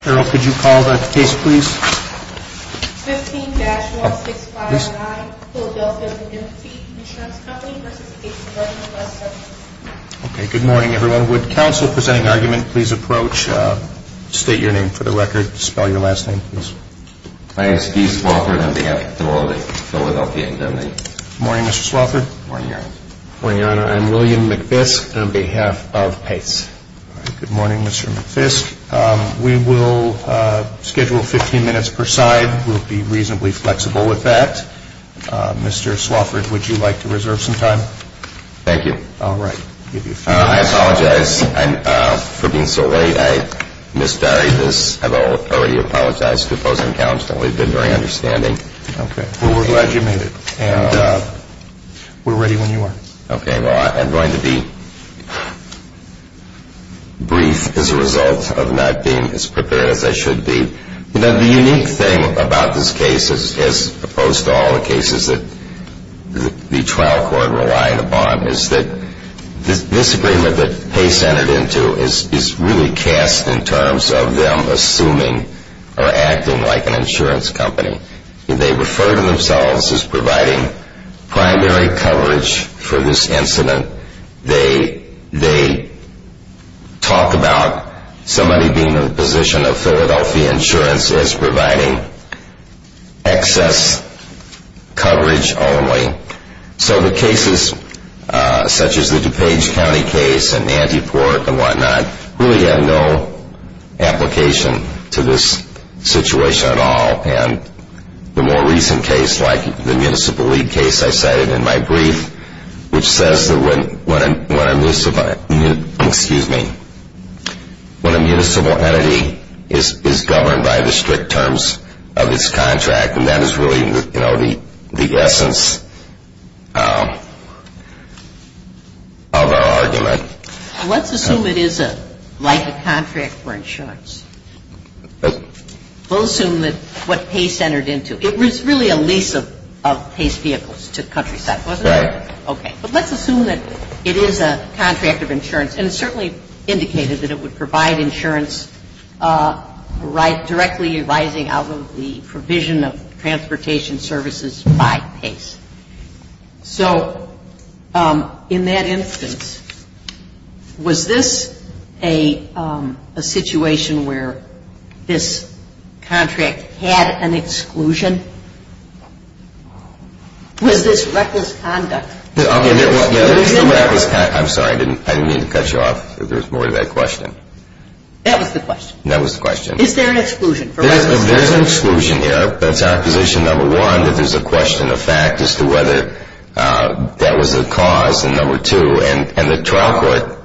15-16519 Philadelphia Indemnity Insurance Company v. Pace Burburban Bus 15-16519 Philadelphia Indemnity Insurance Company v. Pace Burburban Bus I am Steve Swalford on behalf of the Philadelphia Indemnity Insurance Company. Good morning, Mr. Swalford. Good morning, Your Honor. Good morning, Your Honor. I am William McFisk on behalf of Pace. Good morning, Mr. McFisk. We will schedule 15 minutes per side. We'll be reasonably flexible with that. Mr. Swalford, would you like to reserve some time? Thank you. All right. I apologize for being so late. I misdirected this. I've already apologized to opposing counsel. We've been very understanding. Okay. Well, we're glad you made it, and we're ready when you are. Okay. Well, I'm going to be brief as a result of not being as prepared as I should be. You know, the unique thing about this case, as opposed to all the cases that the trial court relied upon, is that this agreement that Pace entered into is really cast in terms of them assuming or acting like an insurance company. They refer to themselves as providing primary coverage for this incident. They talk about somebody being in the position of Philadelphia Insurance as providing excess coverage only. So the cases such as the DuPage County case and Antiport and whatnot really have no application to this situation at all. And the more recent case, like the Municipal League case I cited in my brief, which says that when a municipal entity is governed by the strict terms of its contract, and that is really, you know, the essence of our argument. Let's assume it is like a contract for insurance. We'll assume that what Pace entered into, it was really a lease of Pace Vehicles to Countryside, wasn't it? Right. Okay. But let's assume that it is a contract of insurance, and it certainly indicated that it would provide insurance directly arising out of the provision of transportation services by Pace. So in that instance, was this a situation where this contract had an exclusion? Was this reckless conduct? I'm sorry, I didn't mean to cut you off. There was more to that question. That was the question. Is there an exclusion for reckless conduct? There's an exclusion here. That's our position, number one, that there's a question of fact as to whether that was a cause, and number two, and the trial court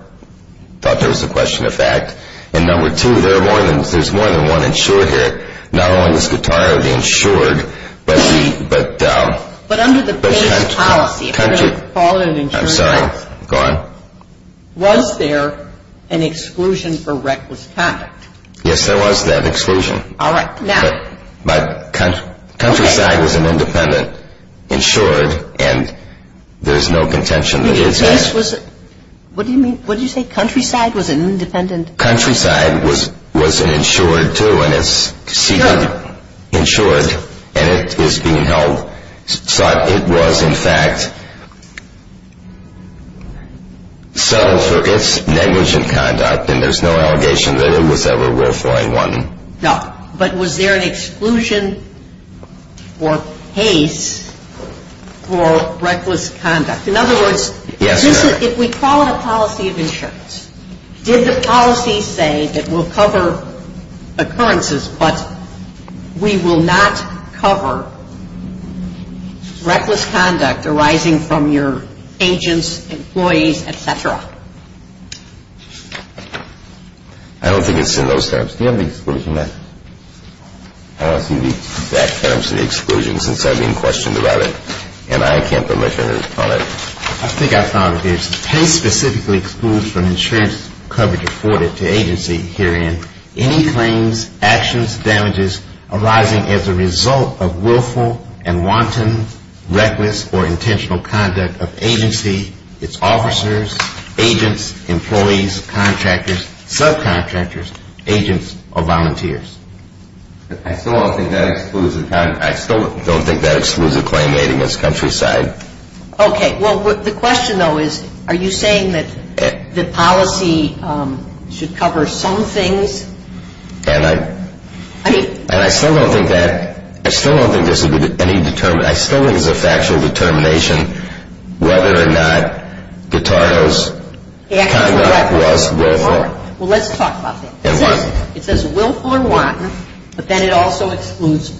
thought there was a question of fact. And number two, there's more than one insured here. Not only was Guitarra the insured, but the country. But under the Pace policy, if you're going to call it an insurance act, was there an exclusion for reckless conduct? Yes, there was that exclusion. All right, now. But countryside was an independent insured, and there's no contention that it is. What do you mean? What did you say? Countryside was an independent? Countryside was an insured, too, and it's seated insured, and it is being held. It was, in fact, settled for its negligent conduct, and there's no allegation that it was ever willfully one. No, but was there an exclusion for Pace for reckless conduct? In other words, if we call it a policy of insurance, did the policy say that we'll cover occurrences, but we will not cover reckless conduct arising from your agents, employees, et cetera? I don't think it's in those terms. Do you have the exclusion there? I don't see the exact terms of the exclusion since I've been questioned about it, and I can't put my finger on it. I think I found it there. Pace specifically excludes from insurance coverage afforded to agency herein any claims, actions, damages arising as a result of willful and wanton, reckless, or intentional conduct of agency, its officers, agents, employees, contractors, subcontractors, agents, or volunteers. I still don't think that excludes a claim made against Countryside. Okay. Well, the question, though, is are you saying that the policy should cover some things? And I still don't think that. I still don't think there's any determination. I still think it's a factual determination whether or not Guitaro's conduct was willful. Well, let's talk about that. It says willful and wanton, but then it also excludes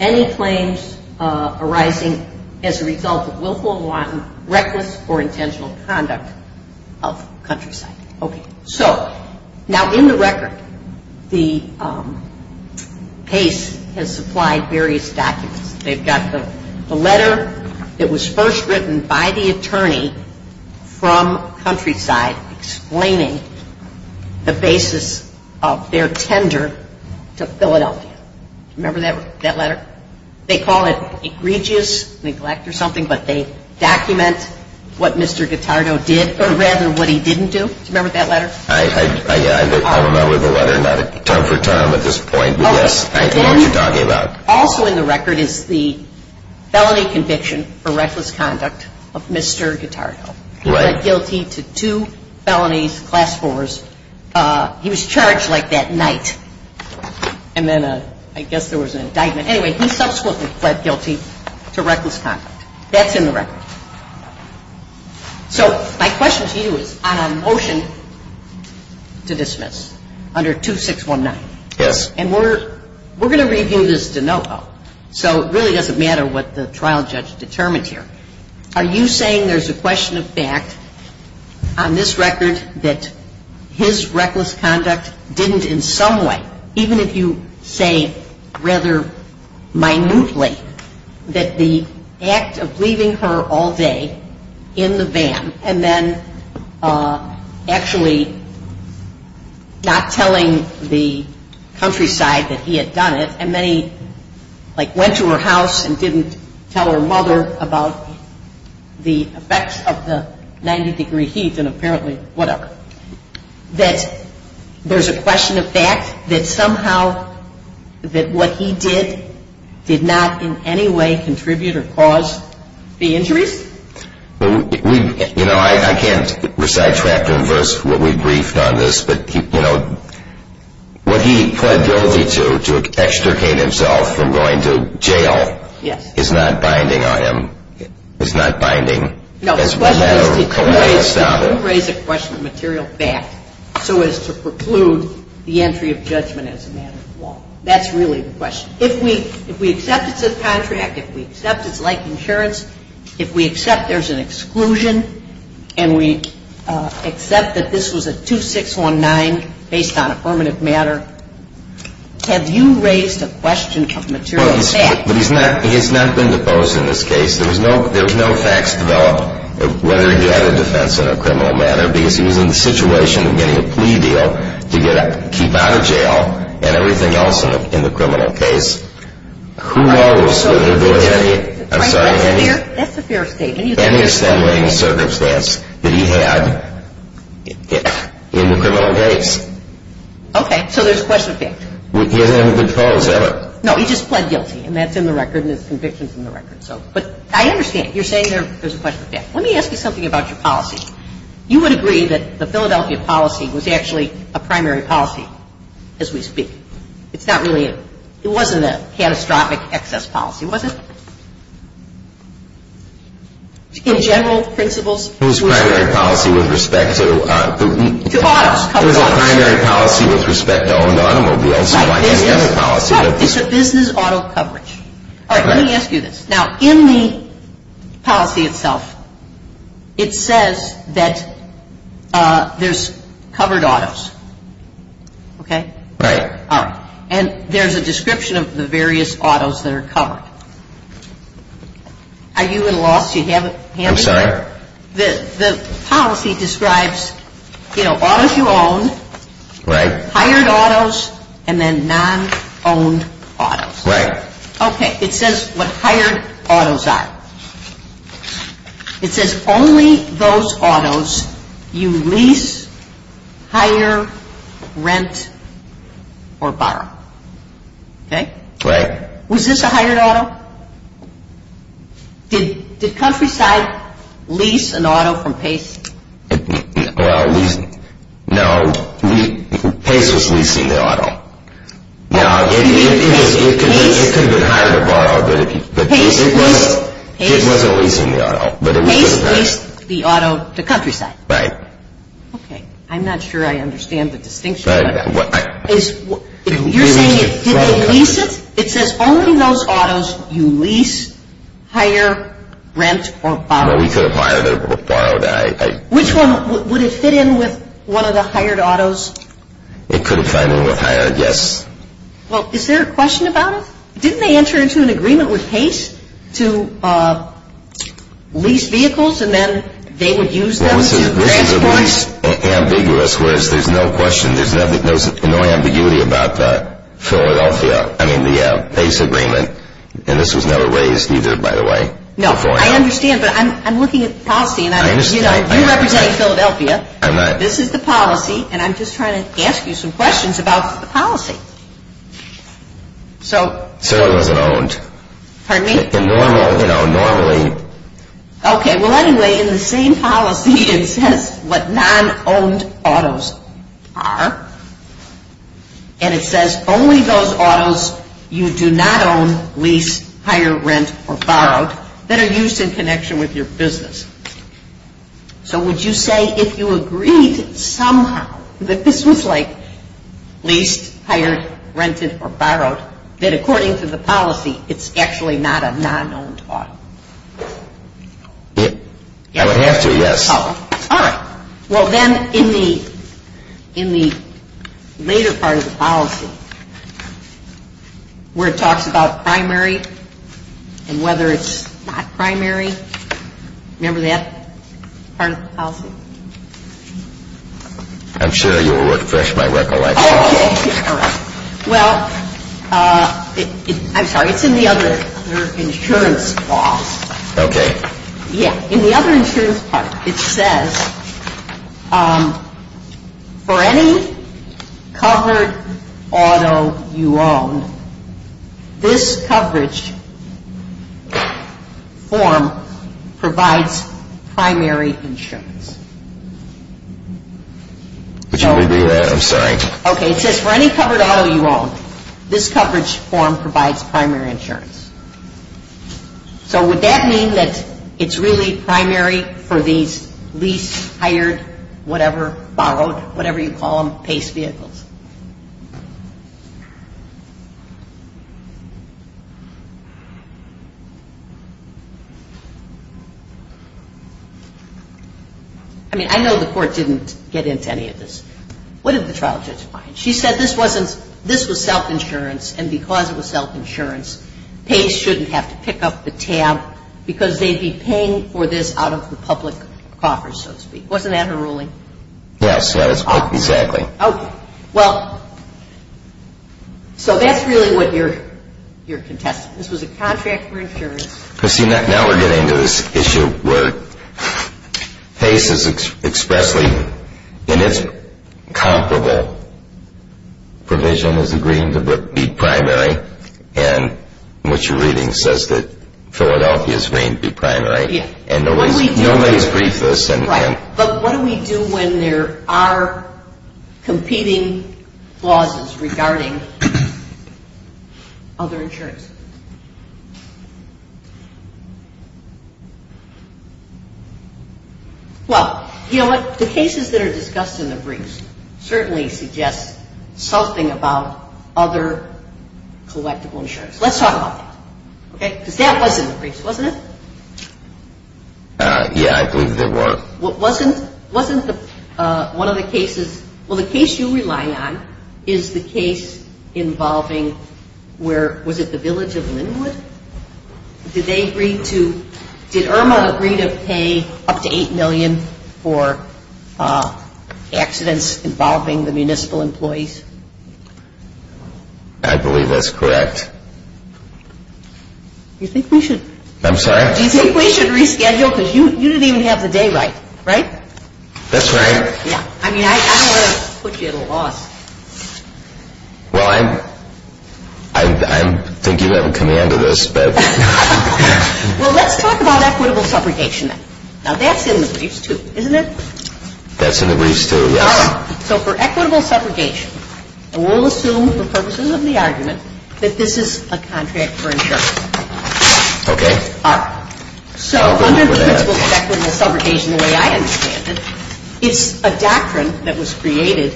any claims arising as a result of willful and wanton, reckless, or intentional conduct of Countryside. Okay. So now in the record, Pace has supplied various documents. They've got the letter that was first written by the attorney from Countryside explaining the basis of their tender to Philadelphia. Do you remember that letter? They call it egregious neglect or something, but they document what Mr. Guitaro did, or rather what he didn't do. Do you remember that letter? I don't remember the letter. Not a term for term at this point, but yes, I know what you're talking about. Also in the record is the felony conviction for reckless conduct of Mr. Guitaro. Right. He pled guilty to two felonies, class fours. He was charged like that night. And then I guess there was an indictment. Anyway, he subsequently pled guilty to reckless conduct. That's in the record. So my question to you is on a motion to dismiss under 2619. Yes. And we're going to review this de novo, so it really doesn't matter what the trial judge determined here. Are you saying there's a question of fact on this record that his reckless conduct didn't in some way, even if you say rather minutely, that the act of leaving her all day in the van and then actually not telling the countryside that he had done it, and then he like went to her house and didn't tell her mother about the effects of the 90-degree heat and apparently whatever, that there's a question of fact that somehow that what he did did not in any way contribute or cause the injuries? You know, I can't recite chapter and verse what we briefed on this, but, you know, what he pled guilty to extricate himself from going to jail is not binding on him. It's not binding. No. The question is to raise a question of material fact so as to preclude the entry of judgment as a matter of law. That's really the question. If we accept it's a contract, if we accept it's like insurance, if we accept there's an exclusion and we accept that this was a 2619 based on affirmative matter, have you raised a question of material fact? But he's not been deposed in this case. There was no facts developed of whether he had a defense in a criminal matter because he was in the situation of getting a plea deal to keep out of jail and everything else in the criminal case. That's a fair statement. Any assembling circumstance that he had in the criminal case. Okay. So there's a question of fact. He hasn't been deposed, has he ever? No, he just pled guilty and that's in the record and it's conviction from the record. But I understand. You're saying there's a question of fact. Let me ask you something about your policy. You would agree that the Philadelphia policy was actually a primary policy as we speak. It's not really, it wasn't a catastrophic excess policy, was it? In general principles. It was a primary policy with respect to. To autos. It was a primary policy with respect to owned automobiles. It's a business auto coverage. All right. Let me ask you this. Now in the policy itself, it says that there's covered autos. Okay. Right. All right. And there's a description of the various autos that are covered. Are you at a loss? Do you have it handy? I'm sorry? The policy describes, you know, autos you own. Right. Hired autos and then non-owned autos. Right. Okay. It says what hired autos are. It says only those autos you lease, hire, rent, or borrow. Okay. Right. Was this a hired auto? Did Countryside lease an auto from Pace? No. Pace was leasing the auto. No, it could have been a hired auto, but it wasn't leasing the auto. Pace leased the auto to Countryside. Right. Okay. I'm not sure I understand the distinction. You're saying did they lease it? It says only those autos you lease, hire, rent, or borrow. No, we could have hired or borrowed. Which one? Would it fit in with one of the hired autos? It could have fit in with hired, yes. Well, is there a question about it? Didn't they enter into an agreement with Pace to lease vehicles and then they would use them to transport? Well, this is at least ambiguous, whereas there's no question. There's no ambiguity about Philadelphia. I mean, the Pace agreement, and this was never raised either, by the way. No, I understand, but I'm looking at the policy. I understand. You represent Philadelphia. I'm not. This is the policy, and I'm just trying to ask you some questions about the policy. So it wasn't owned. Pardon me? Normally. Okay. Well, anyway, in the same policy it says what non-owned autos are, and it says only those autos you do not own, lease, hire, rent, or borrow that are used in connection with your business. So would you say if you agreed somehow that this was like leased, hired, rented, or borrowed, that according to the policy it's actually not a non-owned auto? I would have to, yes. All right. Well, then in the later part of the policy where it talks about primary and whether it's not primary, remember that part of the policy? I'm sure you'll refresh my recollection. Okay. All right. Well, I'm sorry, it's in the other insurance law. Okay. In the other insurance part, it says for any covered auto you own, this coverage form provides primary insurance. Could you repeat that? I'm sorry. Okay. It says for any covered auto you own, this coverage form provides primary insurance. So would that mean that it's really primary for these leased, hired, whatever, borrowed, whatever you call them, PACE vehicles? I mean, I know the Court didn't get into any of this. What did the trial judge find? She said this was self-insurance, and because it was self-insurance, PACE shouldn't have to pick up the tab because they'd be paying for this out of the public coffers, so to speak. Wasn't that her ruling? Yes. Exactly. Okay. Well, so that's really what you're contesting. This was a contract for insurance. Now we're getting to this issue where PACE is expressly, in its comparable provision is agreeing to be primary, and what you're reading says that Philadelphia is agreeing to be primary, Right. But what do we do when there are competing clauses regarding other insurance? Well, you know what? The cases that are discussed in the briefs certainly suggest something about other collectible insurance. Let's talk about that, okay? Because that was in the briefs, wasn't it? Yeah, I believe it was. Wasn't one of the cases, well, the case you rely on is the case involving where, was it the village of Linwood? Did they agree to, did Irma agree to pay up to $8 million for accidents involving the municipal employees? I believe that's correct. You think we should? I'm sorry? Do you think we should reschedule because you didn't even have the day right, right? That's right. Yeah, I mean, I don't want to put you at a loss. Well, I think you have a command of this. Well, let's talk about equitable separation then. Now that's in the briefs too, isn't it? That's in the briefs too, yes. So for equitable separation, and we'll assume for purposes of the argument that this is a contract for insurance. Okay. All right. So under the principles of equitable segregation the way I understand it, it's a doctrine that was created,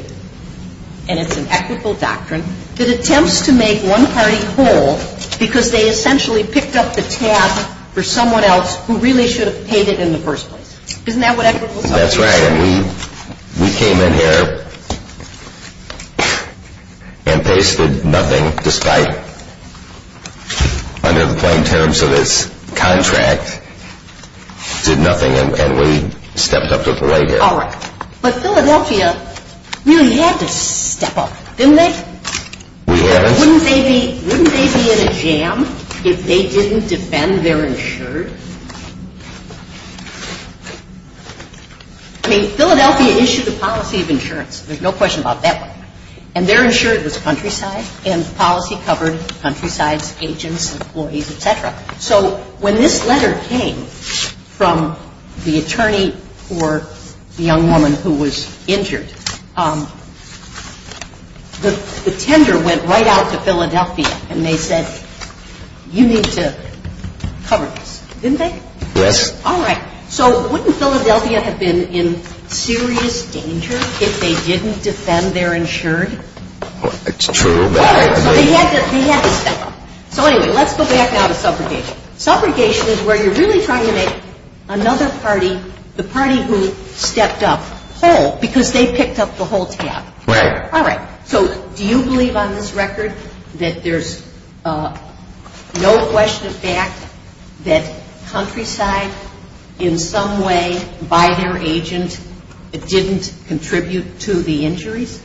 and it's an equitable doctrine, that attempts to make one party whole because they essentially picked up the tab for someone else who really should have paid it in the first place. Isn't that what equitable segregation is? That's right. And we came in here and pasted nothing despite under the plain terms of this contract, did nothing, and we stepped up to the plate here. All right. But Philadelphia really had to step up, didn't they? We had. Wouldn't they be in a jam if they didn't defend their insurance? I mean, Philadelphia issued a policy of insurance. There's no question about that one. And their insurance was countryside, and the policy covered countrysides, agents, employees, et cetera. So when this letter came from the attorney for the young woman who was injured, the tender went right out to Philadelphia, and they said, you need to cover this. Didn't they? Yes. All right. So wouldn't Philadelphia have been in serious danger if they didn't defend their insurance? It's true. They had to step up. So anyway, let's go back now to subrogation. Subrogation is where you're really trying to make another party, the party who stepped up, whole because they picked up the whole tab. Right. All right. So do you believe on this record that there's no question of fact that countryside, in some way, by their agent, didn't contribute to the injuries?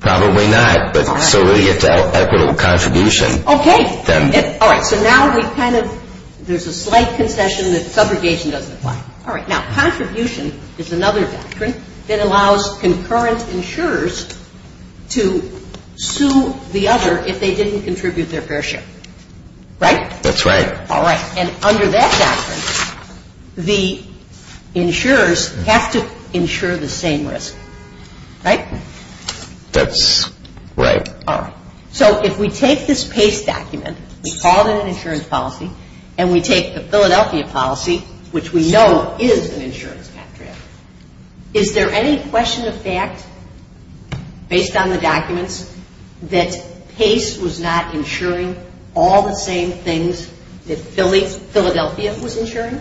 Probably not. So we have to have equitable contribution. Okay. All right. So now we've kind of, there's a slight concession that subrogation doesn't apply. All right. Now, contribution is another doctrine that allows concurrent insurers to sue the other if they didn't contribute their fair share. Right? That's right. All right. And under that doctrine, the insurers have to insure the same risk. Right? That's right. All right. So if we take this PACE document, we call it an insurance policy, and we take the Philadelphia policy, which we know is an insurance contract, is there any question of fact, based on the documents, that PACE was not insuring all the same things that Philadelphia was insuring?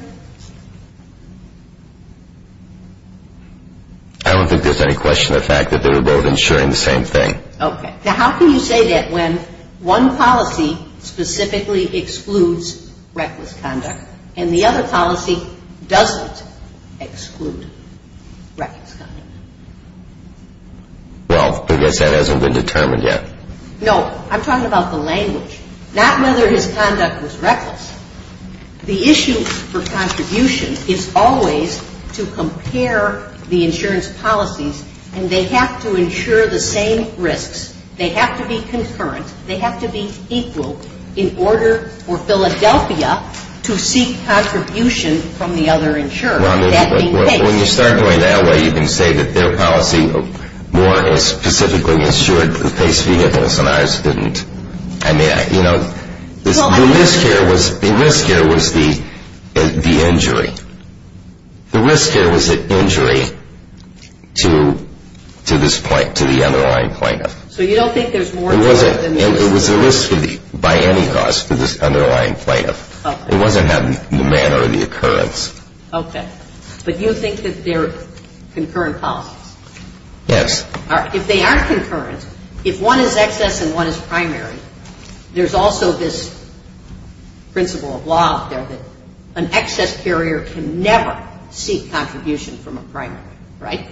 I don't think there's any question of fact that they were both insuring the same thing. Okay. Now, how can you say that when one policy specifically excludes reckless conduct and the other policy doesn't exclude reckless conduct? Well, I guess that hasn't been determined yet. No. I'm talking about the language, not whether his conduct was reckless. The issue for contribution is always to compare the insurance policies, and they have to insure the same risks. They have to be concurrent. They have to be equal in order for Philadelphia to seek contribution from the other insurer. Well, when you start going that way, you can say that their policy more specifically insured the PACE fee and ours didn't. I mean, you know, the risk here was the injury. The risk here was the injury to the underlying plaintiff. So you don't think there's more to it than that? It was a risk by any cost to this underlying plaintiff. Okay. It wasn't the manner or the occurrence. Okay. But you think that they're concurrent policies? Yes. If they are concurrent, if one is excess and one is primary, there's also this principle of law up there that an excess carrier can never seek contribution from a primary. Right?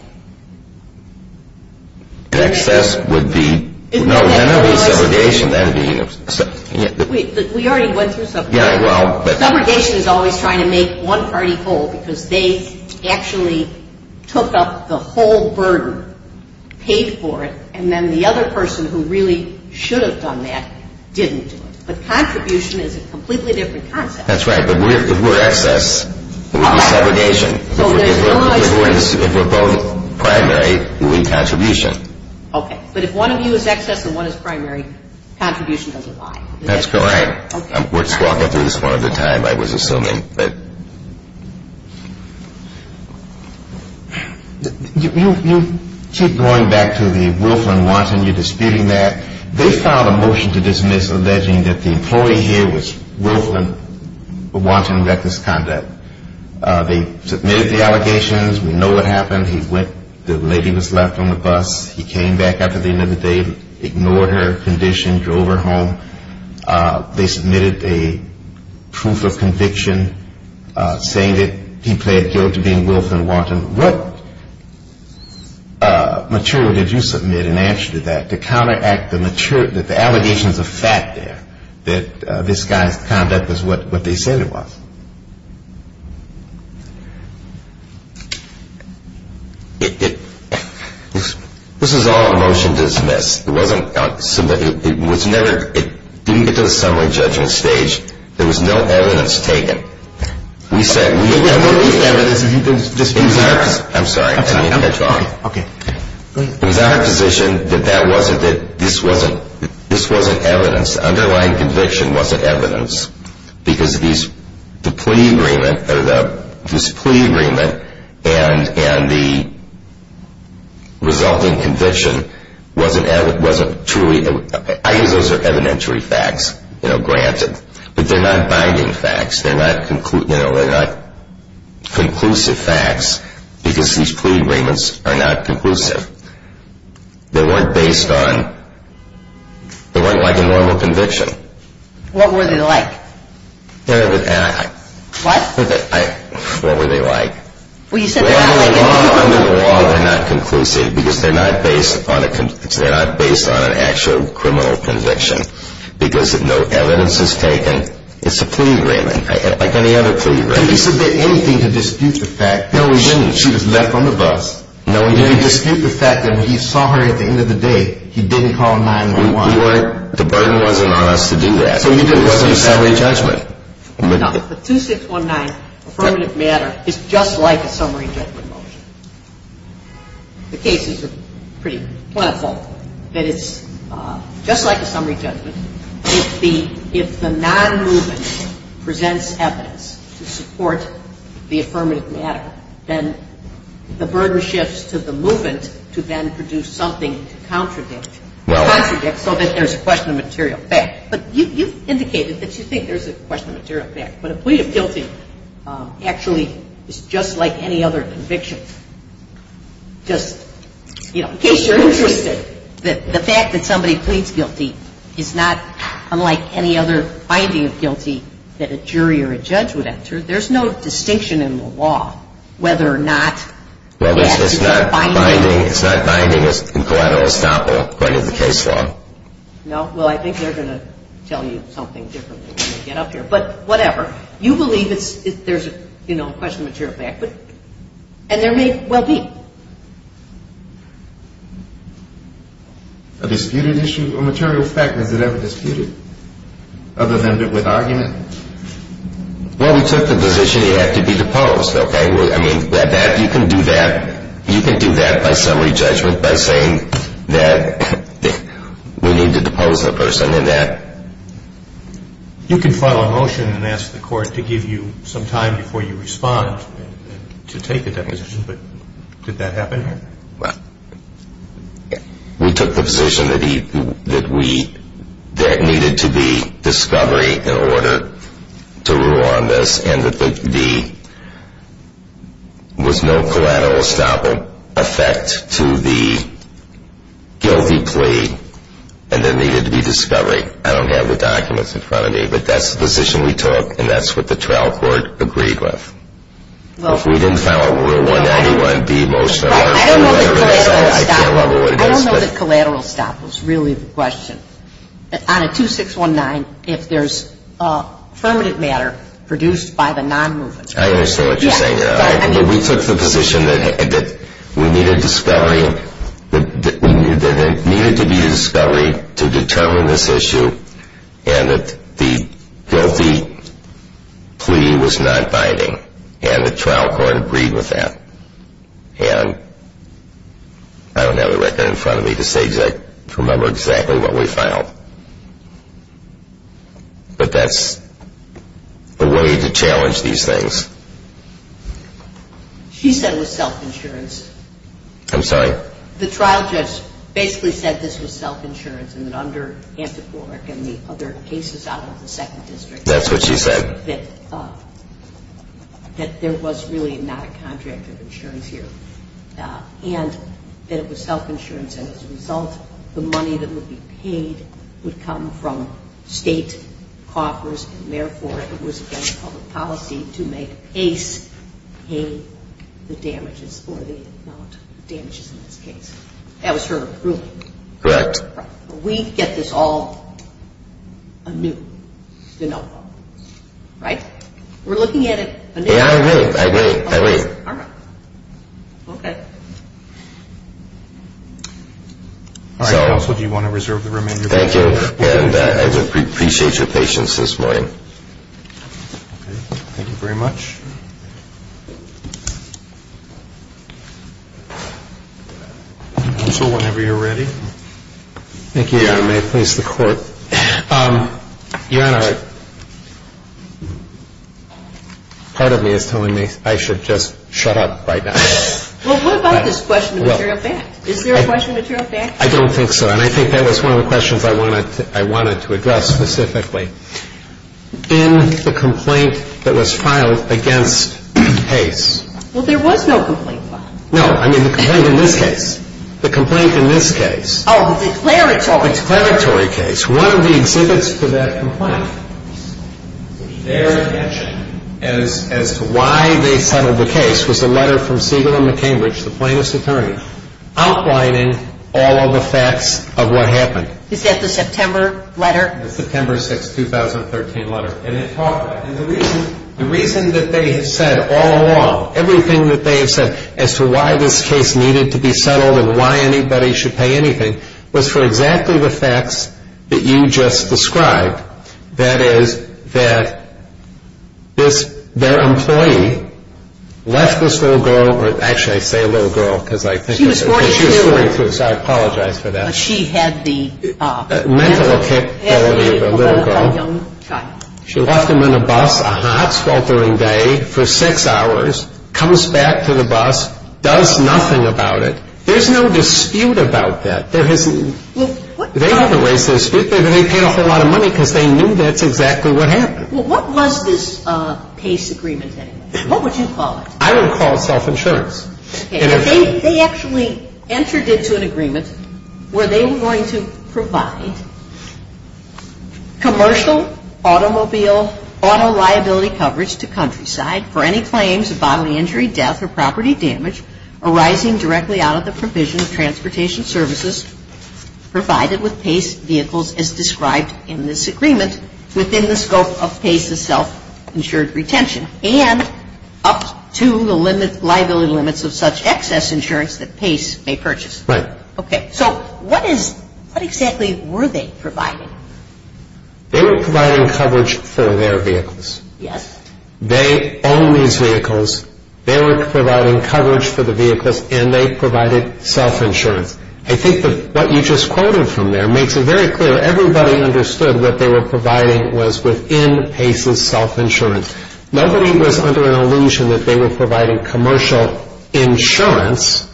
Excess would be, no, that would be subrogation. We already went through subrogation. Subrogation is always trying to make one party whole because they actually took up the whole burden, paid for it, and then the other person who really should have done that didn't do it. But contribution is a completely different concept. That's right. But if we're excess, it would be subrogation. If we're both primary, we would be contribution. Okay. But if one of you is excess and one is primary, contribution doesn't lie. That's correct. We're just walking through this one at a time, I was assuming. You keep going back to the Wolfland-Wanton. You're disputing that. They filed a motion to dismiss alleging that the employee here was Wolfland-Wanton reckless conduct. They submitted the allegations. We know what happened. He went, the lady was left on the bus. He came back after the end of the day, ignored her condition, drove her home. They submitted a proof of conviction saying that he pled guilty to being Wolfland-Wanton. What material did you submit in answer to that to counteract the allegations of fact there that this guy's conduct was what they said it was? This was all a motion to dismiss. It didn't get to the summary judgment stage. There was no evidence taken. We said we had no evidence. There was no evidence. I'm sorry. Can you catch on? Okay. Go ahead. It was our position that this wasn't evidence. The underlying conviction wasn't evidence because this plea agreement and the resulting conviction wasn't truly, I guess those are evidentiary facts, you know, granted. But they're not binding facts. They're not conclusive facts because these plea agreements are not conclusive. They weren't based on, they weren't like a normal conviction. What were they like? What? What were they like? Well, you said they're not like a normal conviction. Under the law, they're not conclusive because they're not based on an actual criminal conviction because no evidence is taken. It's a plea agreement like any other plea agreement. Did he submit anything to dispute the fact that she was left on the bus? No, he didn't. Did he dispute the fact that when he saw her at the end of the day, he didn't call 911? We weren't, the burden wasn't on us to do that. So it wasn't a summary judgment? No. The 2619 affirmative matter is just like a summary judgment motion. The cases are pretty plentiful. But it's just like a summary judgment. If the non-movement presents evidence to support the affirmative matter, then the burden shifts to the movement to then produce something to contradict, contradict so that there's a question of material fact. But you indicated that you think there's a question of material fact. But a plea of guilty actually is just like any other conviction, just, you know, in case you're interested, the fact that somebody pleads guilty is not unlike any other finding of guilty that a jury or a judge would enter. There's no distinction in the law whether or not you have to do a binding. Well, it's not binding. It's not binding as collateral estoppel according to the case law. No. Well, I think they're going to tell you something different when you get up here. But whatever. You believe there's, you know, a question of material fact. And there may well be. A disputed issue of material fact. Has it ever disputed other than with argument? Well, we took the position it had to be deposed, okay? I mean, you can do that by summary judgment by saying that we need to depose the person and that. You can file a motion and ask the court to give you some time before you respond to take a deposition. But did that happen here? Well, we took the position that we needed to be discovery in order to rule on this and that there was no collateral estoppel effect to the guilty plea. And there needed to be discovery. I don't have the documents in front of me, but that's the position we took. And that's what the trial court agreed with. We didn't file a 191B motion. I don't know that collateral estoppel is really the question. On a 2619, if there's affirmative matter produced by the non-movement. I understand what you're saying. We took the position that we needed discovery, that there needed to be a discovery to determine this issue and that the guilty plea was not binding. And the trial court agreed with that. And I don't have the record in front of me to remember exactly what we filed. But that's a way to challenge these things. She said it was self-insurance. I'm sorry? The trial judge basically said this was self-insurance and that under Anticorac and the other cases out of the second district. That's what she said? That there was really not a contract of insurance here. And that it was self-insurance. And as a result, the money that would be paid would come from state coffers. And therefore, it was against public policy to make ACE pay the damages or the amount of damages in this case. That was her ruling. Correct. We get this all anew. Right? We're looking at it anew. Yeah, I agree. I agree. I agree. All right. Okay. Counsel, do you want to reserve the remainder of your time? Thank you. And I appreciate your patience this morning. Okay. Thank you very much. Counsel, whenever you're ready. Thank you, Your Honor. May it please the Court. Your Honor, part of me is telling me I should just shut up right now. Well, what about this question of material fact? Is there a question of material fact? I don't think so. And I think that was one of the questions I wanted to address specifically. In the complaint that was filed against ACE. Well, there was no complaint filed. No, I mean the complaint in this case. The complaint in this case. Oh, the declaratory case. The declaratory case. One of the exhibits for that complaint, with their attention as to why they settled the case, was a letter from Siegel and McCambridge, the plaintiff's attorney, outlining all of the facts of what happened. Is that the September letter? The September 6, 2013 letter. And it talked about it. And the reason that they have said all along, everything that they have said as to why this case needed to be settled and why anybody should pay anything, was for exactly the facts that you just described. That is, that their employee left this little girl, or actually I say little girl because I think of her. She was 42. She was 42, so I apologize for that. But she had the mental kick. She had the mentality of a little girl. A young child. She left him in a bus, a hot, sweltering day, for six hours, comes back to the bus, does nothing about it. There's no dispute about that. There hasn't been. They haven't raised a dispute. They haven't paid a whole lot of money because they knew that's exactly what happened. Well, what was this PACE agreement anyway? What would you call it? I would call it self-insurance. They actually entered into an agreement where they were going to provide commercial automobile auto liability coverage to Countryside for any claims of bodily injury, death, or property damage arising directly out of the provision of transportation services provided with PACE vehicles as described in this agreement within the scope of PACE's self-insured retention and up to the liability limits of such excess insurance that PACE may purchase. Right. Okay. So what exactly were they providing? They were providing coverage for their vehicles. Yes. They own these vehicles. They were providing coverage for the vehicles, and they provided self-insurance. I think that what you just quoted from there makes it very clear. Everybody understood what they were providing was within PACE's self-insurance. Nobody was under an illusion that they were providing commercial insurance.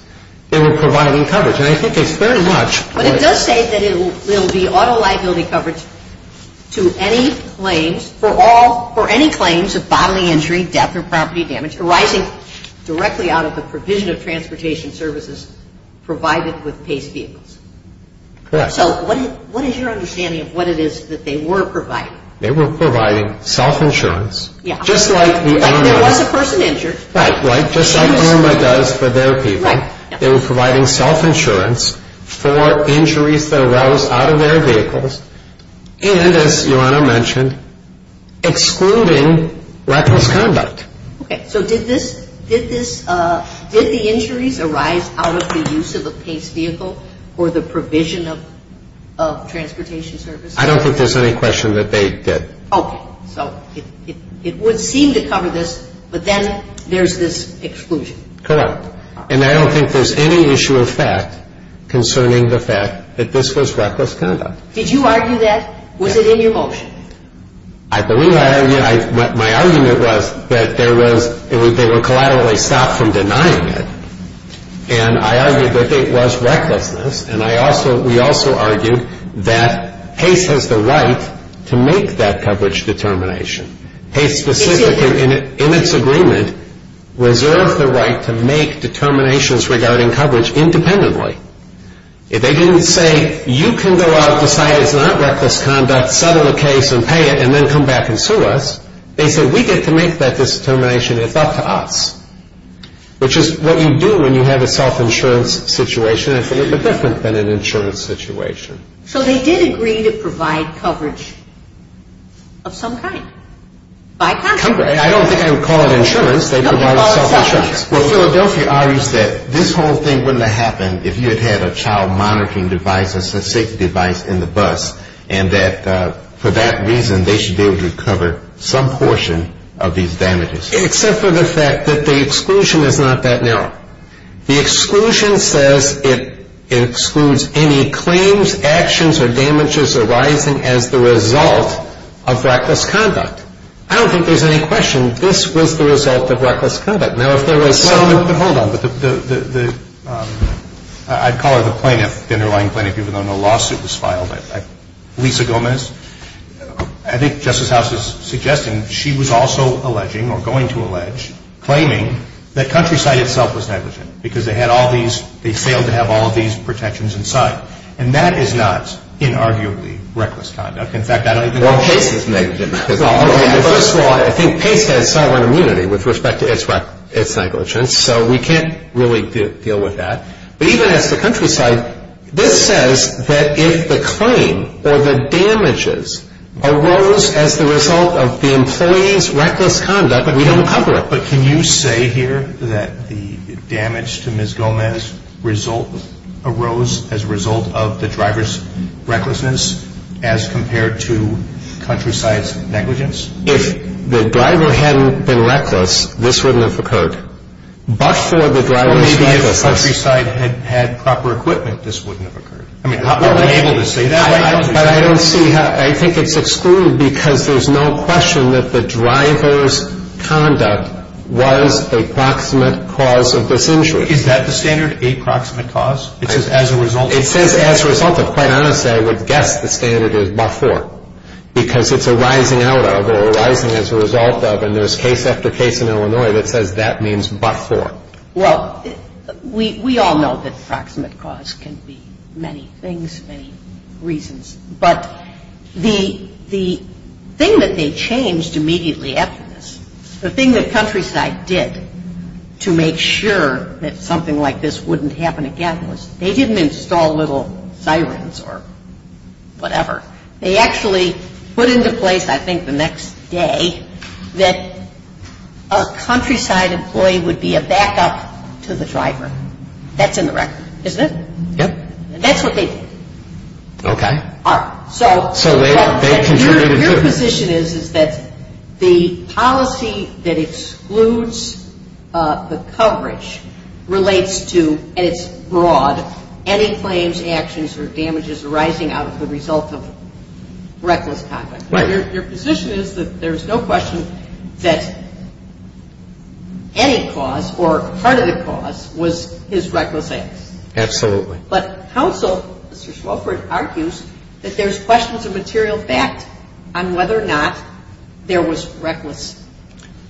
They were providing coverage. And I think it's very much what you're saying. But it does say that it will be auto liability coverage to any claims for all or any claims of bodily injury, death, or property damage arising directly out of the provision of transportation services provided with PACE vehicles. Correct. So what is your understanding of what it is that they were providing? They were providing self-insurance. Yes. Just like the ARMA. Like there was a person injured. Right. Right. Just like ARMA does for their people. Right. They were providing self-insurance for injuries that arose out of their vehicles and, as Yolanda mentioned, excluding reckless conduct. Okay. So did the injuries arise out of the use of a PACE vehicle or the provision of transportation services? I don't think there's any question that they did. Okay. So it would seem to cover this, but then there's this exclusion. Correct. And I don't think there's any issue of fact concerning the fact that this was reckless conduct. Did you argue that? Was it in your motion? I believe I argued. My argument was that they were collaterally stopped from denying it, and I argued that it was recklessness, and we also argued that PACE has the right to make that coverage determination. PACE specifically, in its agreement, reserved the right to make determinations regarding coverage independently. They didn't say, you can go out, decide it's not reckless conduct, settle the case, and pay it, and then come back and sue us. They said, we get to make that determination. It's up to us, which is what you do when you have a self-insurance situation. It's a little bit different than an insurance situation. So they did agree to provide coverage of some kind by consequence. I don't think I would call it insurance. They provided self-insurance. Well, Philadelphia argues that this whole thing wouldn't have happened if you had had a child monitoring device, a safety device in the bus, and that for that reason they should be able to cover some portion of these damages. Except for the fact that the exclusion is not that narrow. The exclusion says it excludes any claims, actions, or damages arising as the result of reckless conduct. I don't think there's any question this was the result of reckless conduct. Now, if there was some Well, hold on. I'd call her the plaintiff, the underlying plaintiff, even though no lawsuit was filed. Lisa Gomez, I think Justice House is suggesting she was also alleging or going to allege, claiming that Countryside itself was negligent because they had all these they failed to have all of these protections in sight. And that is not inarguably reckless conduct. In fact, I don't think Well, Pace is negligent. First of all, I think Pace has sovereign immunity with respect to its negligence. So we can't really deal with that. But even as to Countryside, this says that if the claim or the damages arose as the result of the employee's reckless conduct, we don't cover it. But can you say here that the damage to Ms. Gomez arose as a result of the driver's recklessness as compared to Countryside's negligence? If the driver hadn't been reckless, this wouldn't have occurred. But for the driver's recklessness Or maybe if Countryside had proper equipment, this wouldn't have occurred. I mean, how are we able to say that? But I don't see how I think it's excluded because there's no question that the driver's conduct was a proximate cause of this injury. Is that the standard, a proximate cause? It says as a result of Well, quite honestly, I would guess the standard is before because it's arising out of or arising as a result of and there's case after case in Illinois that says that means before. Well, we all know that proximate cause can be many things, many reasons. But the thing that they changed immediately after this, the thing that Countryside did to make sure that something like this They actually put into place, I think, the next day that a Countryside employee would be a backup to the driver. That's in the record, isn't it? Yep. That's what they did. Okay. So your position is that the policy that excludes the coverage relates to, and it's broad, any claims, actions, or damages arising out of the result of reckless conduct. Right. Your position is that there's no question that any cause or part of the cause was his reckless acts. Absolutely. But counsel, Mr. Swofford, argues that there's questions of material fact on whether or not there was reckless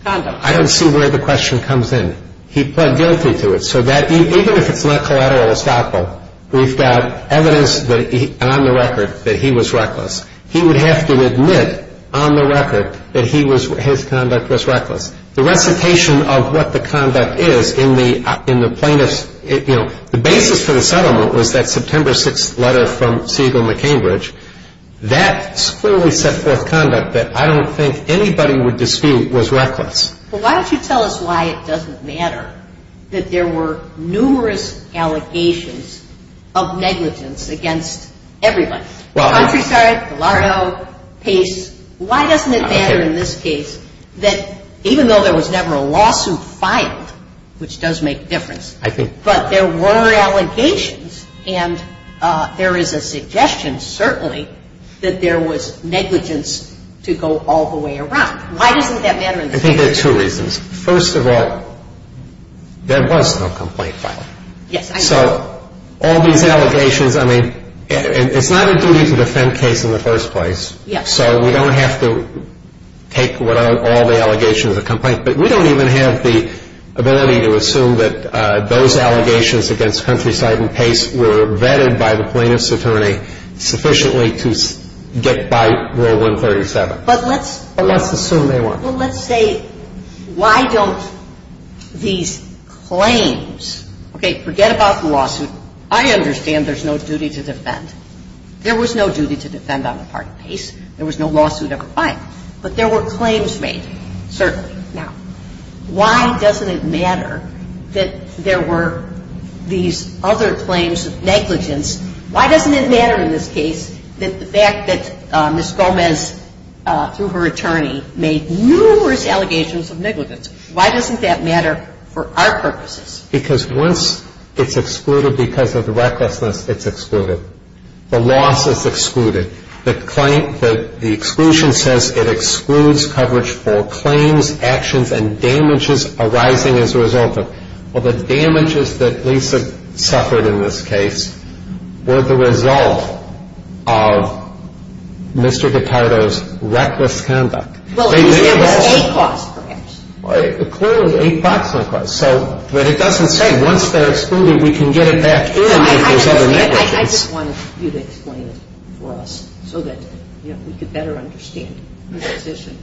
conduct. I don't see where the question comes in. He pled guilty to it. So even if it's not collateral estoppel, we've got evidence on the record that he was reckless. He would have to admit on the record that his conduct was reckless. The recitation of what the conduct is in the plaintiff's, you know, the basis for the settlement was that September 6th letter from Siegel McCambridge. That clearly set forth conduct that I don't think anybody would dispute was reckless. Well, why don't you tell us why it doesn't matter that there were numerous allegations of negligence against everybody? Well. Countryside, Gallardo, Pace. Why doesn't it matter in this case that even though there was never a lawsuit filed, which does make a difference. I think. But there were allegations, and there is a suggestion, certainly, that there was negligence to go all the way around. Why doesn't that matter in this case? I think there are two reasons. First of all, there was no complaint filed. Yes, I know. So all these allegations, I mean, it's not a duty to defend case in the first place. Yes. So we don't have to take all the allegations of the complaint. But we don't even have the ability to assume that those allegations against Countryside and Pace were vetted by the plaintiff's attorney sufficiently to get by Rule 137. But let's. But let's assume they were. Well, let's say why don't these claims. Okay. Forget about the lawsuit. I understand there's no duty to defend. There was no duty to defend on the part of Pace. There was no lawsuit ever filed. But there were claims made, certainly. Now, why doesn't it matter that there were these other claims of negligence? Why doesn't it matter in this case that the fact that Ms. Gomez, through her attorney, made numerous allegations of negligence, why doesn't that matter for our purposes? Because once it's excluded because of the recklessness, it's excluded. The loss is excluded. The exclusion says it excludes coverage for claims, actions, and damages arising as a result of. Well, the damages that Lisa suffered in this case were the result of Mr. Guitardo's reckless conduct. Well, at least there was a cause, perhaps. Clearly, a cause. But it doesn't say once they're excluded, we can get it back in if there's other negligence. I just wanted you to explain it for us so that we could better understand the position.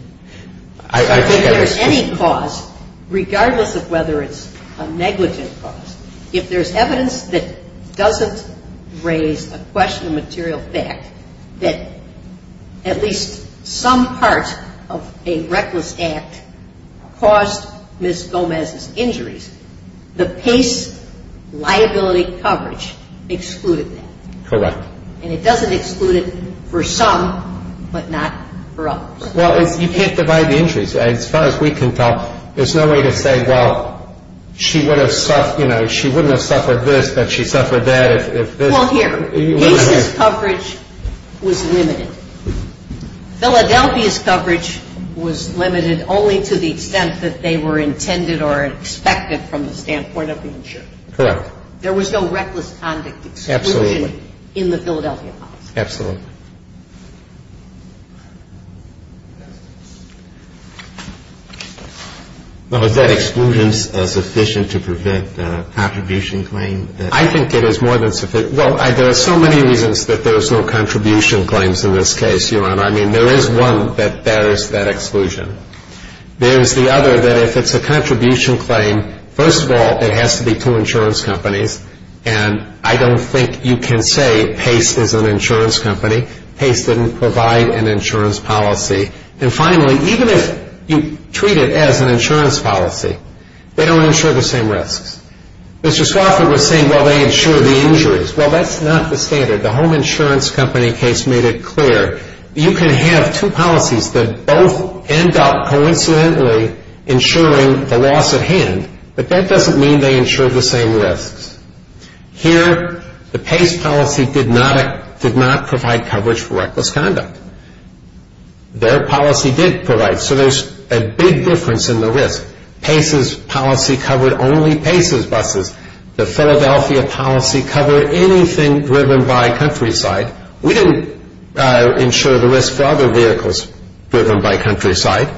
If there's any cause, regardless of whether it's a negligent cause, if there's evidence that doesn't raise a question of material fact, that at least some part of a reckless act caused Ms. Gomez's injuries, the Pace liability coverage excluded that. Correct. And it doesn't exclude it for some, but not for others. Well, you can't divide the injuries. As far as we can tell, there's no way to say, well, she wouldn't have suffered this, but she suffered that. Well, here. Pace's coverage was limited. Philadelphia's coverage was limited only to the extent that they were intended or expected from the standpoint of the insurer. Correct. There was no reckless conduct exclusion in the Philadelphia policy. Absolutely. Well, is that exclusion sufficient to prevent a contribution claim? I think it is more than sufficient. Well, there are so many reasons that there's no contribution claims in this case, Your Honor. I mean, there is one that bears that exclusion. There's the other that if it's a contribution claim, first of all, it has to be two insurance companies. And I don't think you can say Pace is an insurance company. Pace didn't provide an insurance policy. And finally, even if you treat it as an insurance policy, they don't insure the same risks. Mr. Swafford was saying, well, they insure the injuries. Well, that's not the standard. The home insurance company case made it clear. You can have two policies that both end up coincidentally insuring the loss at hand, but that doesn't mean they insure the same risks. Here, the Pace policy did not provide coverage for reckless conduct. Their policy did provide. So there's a big difference in the risk. Pace's policy covered only Pace's buses. The Philadelphia policy covered anything driven by countryside. We didn't insure the risk for other vehicles driven by countryside.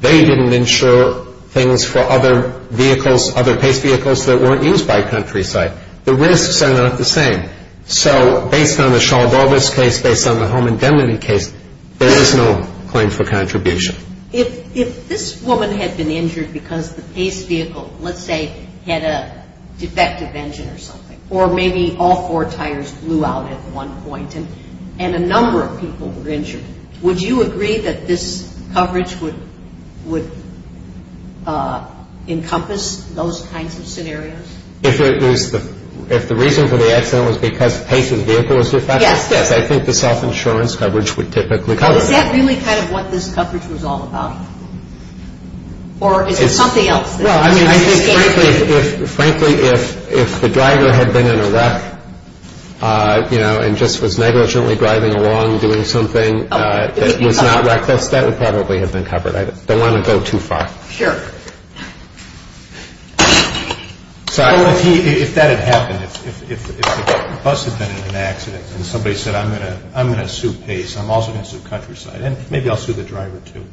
They didn't insure things for other vehicles, other Pace vehicles that weren't used by countryside. The risks are not the same. So based on the Shaw-Borges case, based on the home indemnity case, there is no claim for contribution. If this woman had been injured because the Pace vehicle, let's say, had a defective engine or something, or maybe all four tires blew out at one point and a number of people were injured, would you agree that this coverage would encompass those kinds of scenarios? If the reason for the accident was because Pace's vehicle was defective? Yes. Yes, I think the self-insurance coverage would typically cover that. Is that really kind of what this coverage was all about? Or is it something else? Well, I mean, frankly, if the driver had been in a wreck, you know, and just was negligently driving along doing something that was not reckless, that would probably have been covered. I don't want to go too far. Sure. If that had happened, if the bus had been in an accident and somebody said, I'm going to sue Pace, I'm also going to sue countryside, and maybe I'll sue the driver, too.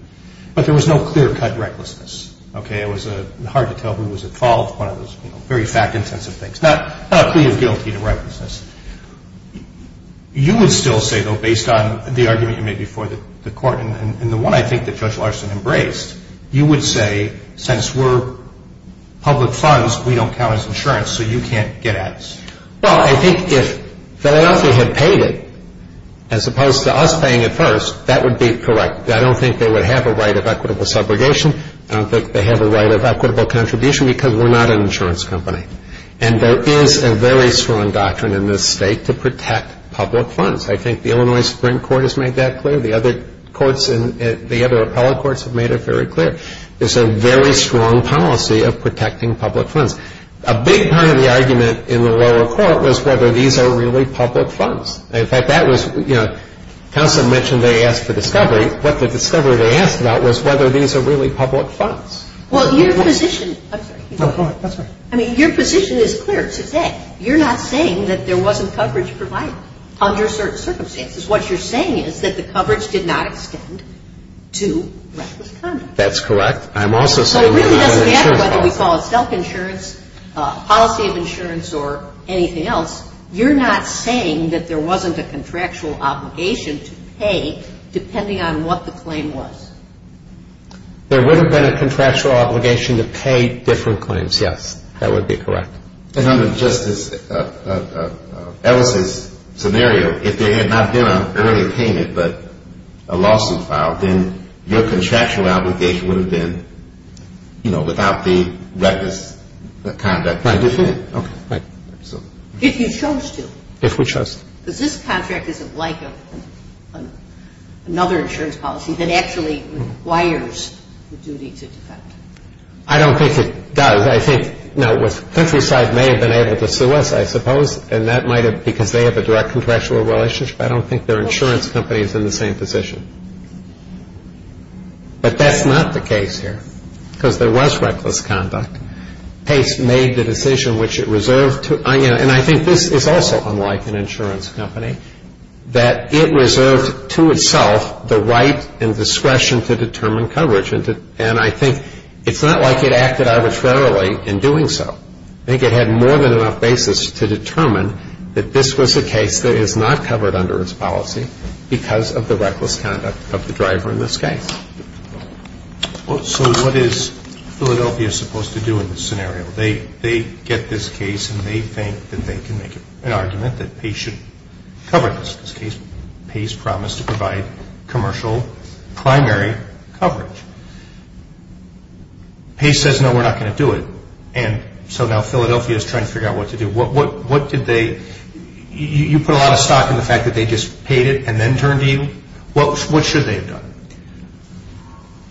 But there was no clear-cut recklessness, okay? It was hard to tell who was at fault. One of those very fact-intensive things. Not a plea of guilty to recklessness. You would still say, though, based on the argument you made before the Court and the one I think that Judge Larson embraced, you would say, since we're public funds, we don't count as insurance, so you can't get ads. Well, I think if Philadelphia had paid it, as opposed to us paying it first, that would be correct. I don't think they would have a right of equitable subrogation. I don't think they have a right of equitable contribution because we're not an insurance company. And there is a very strong doctrine in this State to protect public funds. I think the Illinois Supreme Court has made that clear. The other courts, the other appellate courts have made it very clear. There's a very strong policy of protecting public funds. A big part of the argument in the lower court was whether these are really public funds. In fact, that was, you know, counsel mentioned they asked for discovery. What the discovery they asked about was whether these are really public funds. Well, your position, I'm sorry. No, go ahead. I'm sorry. I mean, your position is clear today. You're not saying that there wasn't coverage provided under certain circumstances. What you're saying is that the coverage did not extend to reckless conduct. That's correct. I'm also saying that it was an insurance policy. So it really doesn't matter whether we call it self-insurance, policy of insurance, or anything else. You're not saying that there wasn't a contractual obligation to pay depending on what the claim was. There would have been a contractual obligation to pay different claims, yes. That would be correct. And under just as Ellis' scenario, if there had not been an early payment but a lawsuit filed, then your contractual obligation would have been, you know, without the reckless conduct. Right. Okay. If you chose to. If we chose to. Because this contract isn't like another insurance policy that actually requires the duty to defend. I don't think it does. I think, no, Countryside may have been able to sue us, I suppose, and that might have been because they have a direct contractual relationship. I don't think their insurance company is in the same position. But that's not the case here because there was reckless conduct. Pace made the decision which it reserved to, and I think this is also unlike an insurance company, that it reserved to itself the right and discretion to determine coverage. And I think it's not like it acted arbitrarily in doing so. I think it had more than enough basis to determine that this was a case that is not covered under its policy because of the reckless conduct of the driver in this case. So what is Philadelphia supposed to do in this scenario? They get this case and they think that they can make an argument that Pace should cover this case. Pace promised to provide commercial primary coverage. Pace says, no, we're not going to do it. And so now Philadelphia is trying to figure out what to do. What did they? You put a lot of stock in the fact that they just paid it and then turned to you. What should they have done?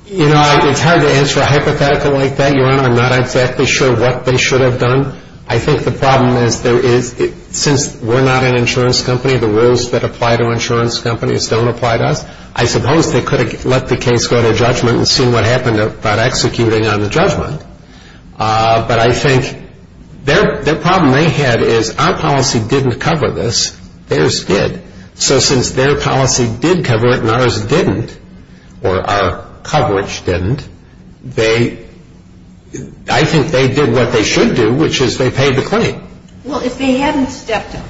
You know, it's hard to answer a hypothetical like that, Your Honor. I'm not exactly sure what they should have done. I think the problem is there is, since we're not an insurance company, the rules that apply to insurance companies don't apply to us, I suppose they could have let the case go to judgment and seen what happened about executing on the judgment. But I think their problem they had is our policy didn't cover this. Theirs did. So since their policy did cover it and ours didn't, or our coverage didn't, I think they did what they should do, which is they paid the claim. Well, if they hadn't stepped up,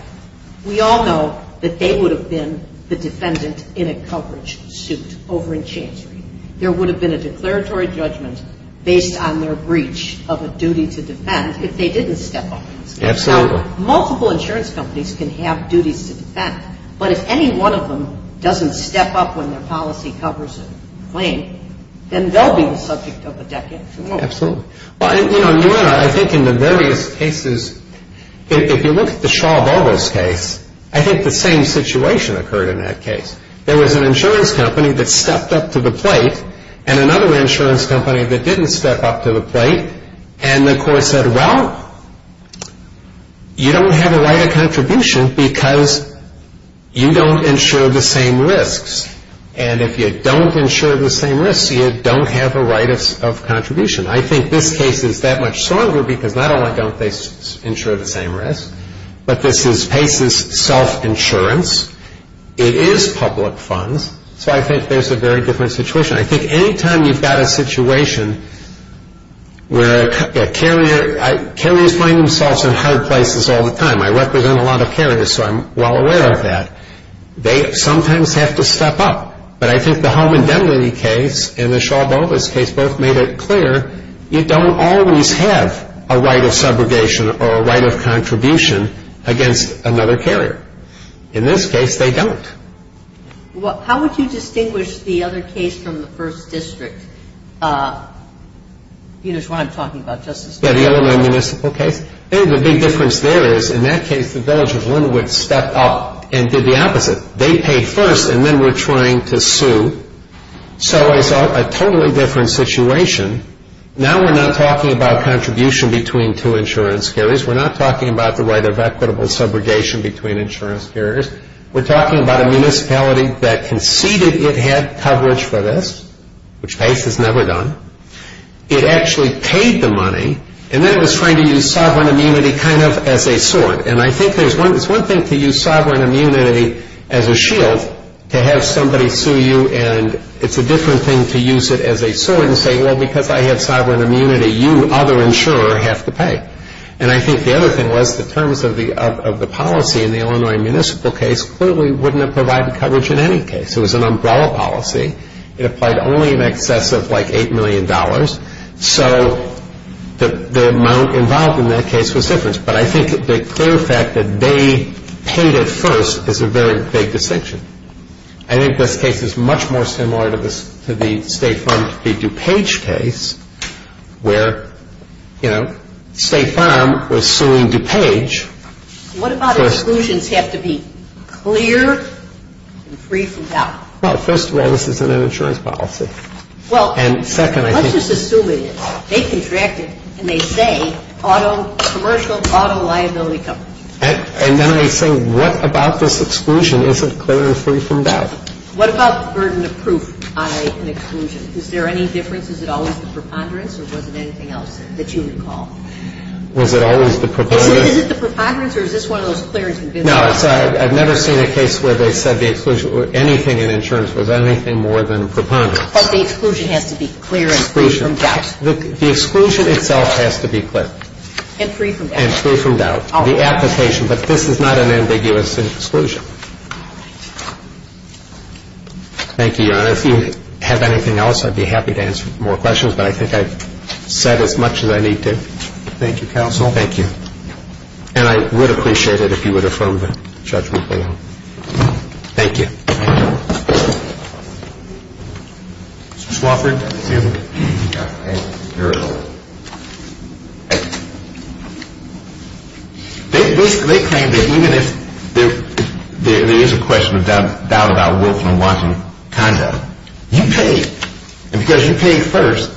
we all know that they would have been the defendant in a coverage suit over in Chancery. There would have been a declaratory judgment based on their breach of a duty to defend if they didn't step up. Absolutely. Now, multiple insurance companies can have duties to defend, but if any one of them doesn't step up when their policy covers a claim, then they'll be the subject of a decade from now. Absolutely. You know, Your Honor, I think in the various cases, if you look at the Shaw-Bogles case, I think the same situation occurred in that case. There was an insurance company that stepped up to the plate and another insurance company that didn't step up to the plate, and the court said, well, you don't have a right of contribution because you don't insure the same risks, and if you don't insure the same risks, you don't have a right of contribution. I think this case is that much stronger because not only don't they insure the same risks, but this is PACE's self-insurance. It is public funds, so I think there's a very different situation. I think any time you've got a situation where carriers find themselves in hard places all the time, I represent a lot of carriers, so I'm well aware of that, they sometimes have to step up, but I think the Hohman-Demny case and the Shaw-Bogles case both made it clear you don't always have a right of subrogation or a right of contribution against another carrier. In this case, they don't. Well, how would you distinguish the other case from the first district? You know, it's what I'm talking about, Justice Breyer. Yeah, the Illinois Municipal case. The big difference there is, in that case, the Village of Linwood stepped up and did the opposite. They paid first, and then we're trying to sue, so it's a totally different situation. Now we're not talking about contribution between two insurance carriers. We're not talking about the right of equitable subrogation between insurance carriers. We're talking about a municipality that conceded it had coverage for this, which PACE has never done. It actually paid the money, and then it was trying to use sovereign immunity kind of as a sword, and I think there's one thing to use sovereign immunity as a shield to have somebody sue you, and it's a different thing to use it as a sword and say, well, because I have sovereign immunity, you, other insurer, have to pay. And I think the other thing was the terms of the policy in the Illinois Municipal case clearly wouldn't have provided coverage in any case. It was an umbrella policy. It applied only in excess of, like, $8 million. So the amount involved in that case was different, but I think the clear fact that they paid it first is a very big distinction. I think this case is much more similar to the state-funded DuPage case, where, you know, State Farm was suing DuPage. What about exclusions have to be clear and free from doubt? Well, first of all, this isn't an insurance policy. Well, let's just assume it is. They contracted, and they say, auto, commercial auto liability company. And then I say, what about this exclusion? Is it clear and free from doubt? What about the burden of proof on an exclusion? Is there any difference? Is it always the preponderance, or was it anything else that you recall? Was it always the preponderance? Is it the preponderance, or is this one of those clear and convincing cases? No. I've never seen a case where they said the exclusion or anything in insurance was anything more than preponderance. But the exclusion has to be clear and free from doubt. Exclusion. The exclusion itself has to be clear. And free from doubt. And free from doubt. The application. But this is not an ambiguous exclusion. All right. Thank you, Your Honor. Your Honor, if you have anything else, I'd be happy to answer more questions. But I think I've said as much as I need to. Thank you, counsel. Thank you. And I would appreciate it if you would affirm the judgment below. Thank you. Mr. Swofford. Yes, Your Honor. Thank you. They claim that even if there is a question of doubt about willful and wanton conduct, you pay. And because you pay first,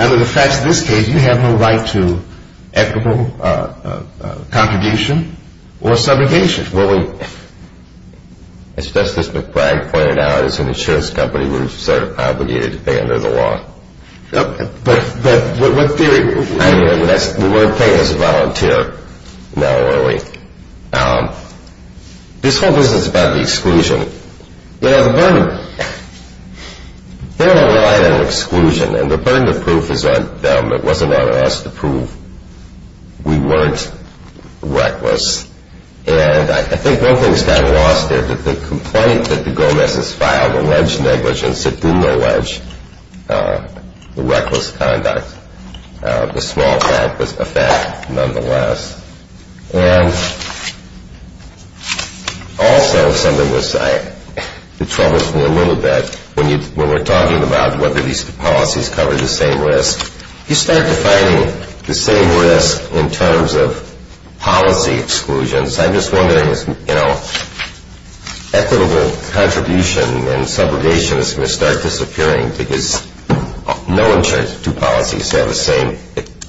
under the facts of this case, you have no right to equitable contribution or subrogation. Well, as Justice McBride pointed out, it's an insurance company. We're obligated to pay under the law. But what theory? We weren't paid as a volunteer, nor were we. This whole business about the exclusion, you know, the burden. They don't rely on exclusion. And the burden of proof is on them. It wasn't on us to prove we weren't reckless. And I think one thing's gotten lost there. The complaint that the Gomez's filed alleged negligence, it didn't allege the reckless conduct. The small fact was a fact nonetheless. And also something that troubles me a little bit when we're talking about whether these policies cover the same risk. You start defining the same risk in terms of policy exclusions. I'm just wondering, you know, equitable contribution and subrogation is going to start disappearing because no insurance policy has the same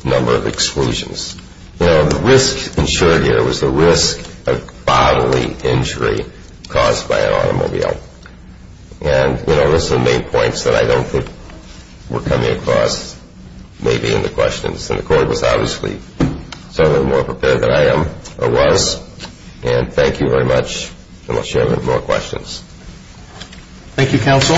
number of exclusions. You know, the risk insured here was the risk of bodily injury caused by an automobile. And, you know, those are the main points that I don't think we're coming across maybe in the questions. And the court was obviously certainly more prepared than I am or was. And thank you very much. And I'll share with you more questions. Thank you, counsel.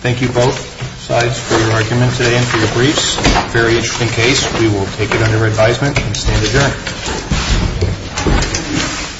Thank you both sides for your argument today and for your briefs. Very interesting case. We will take it under advisement and stand adjourned.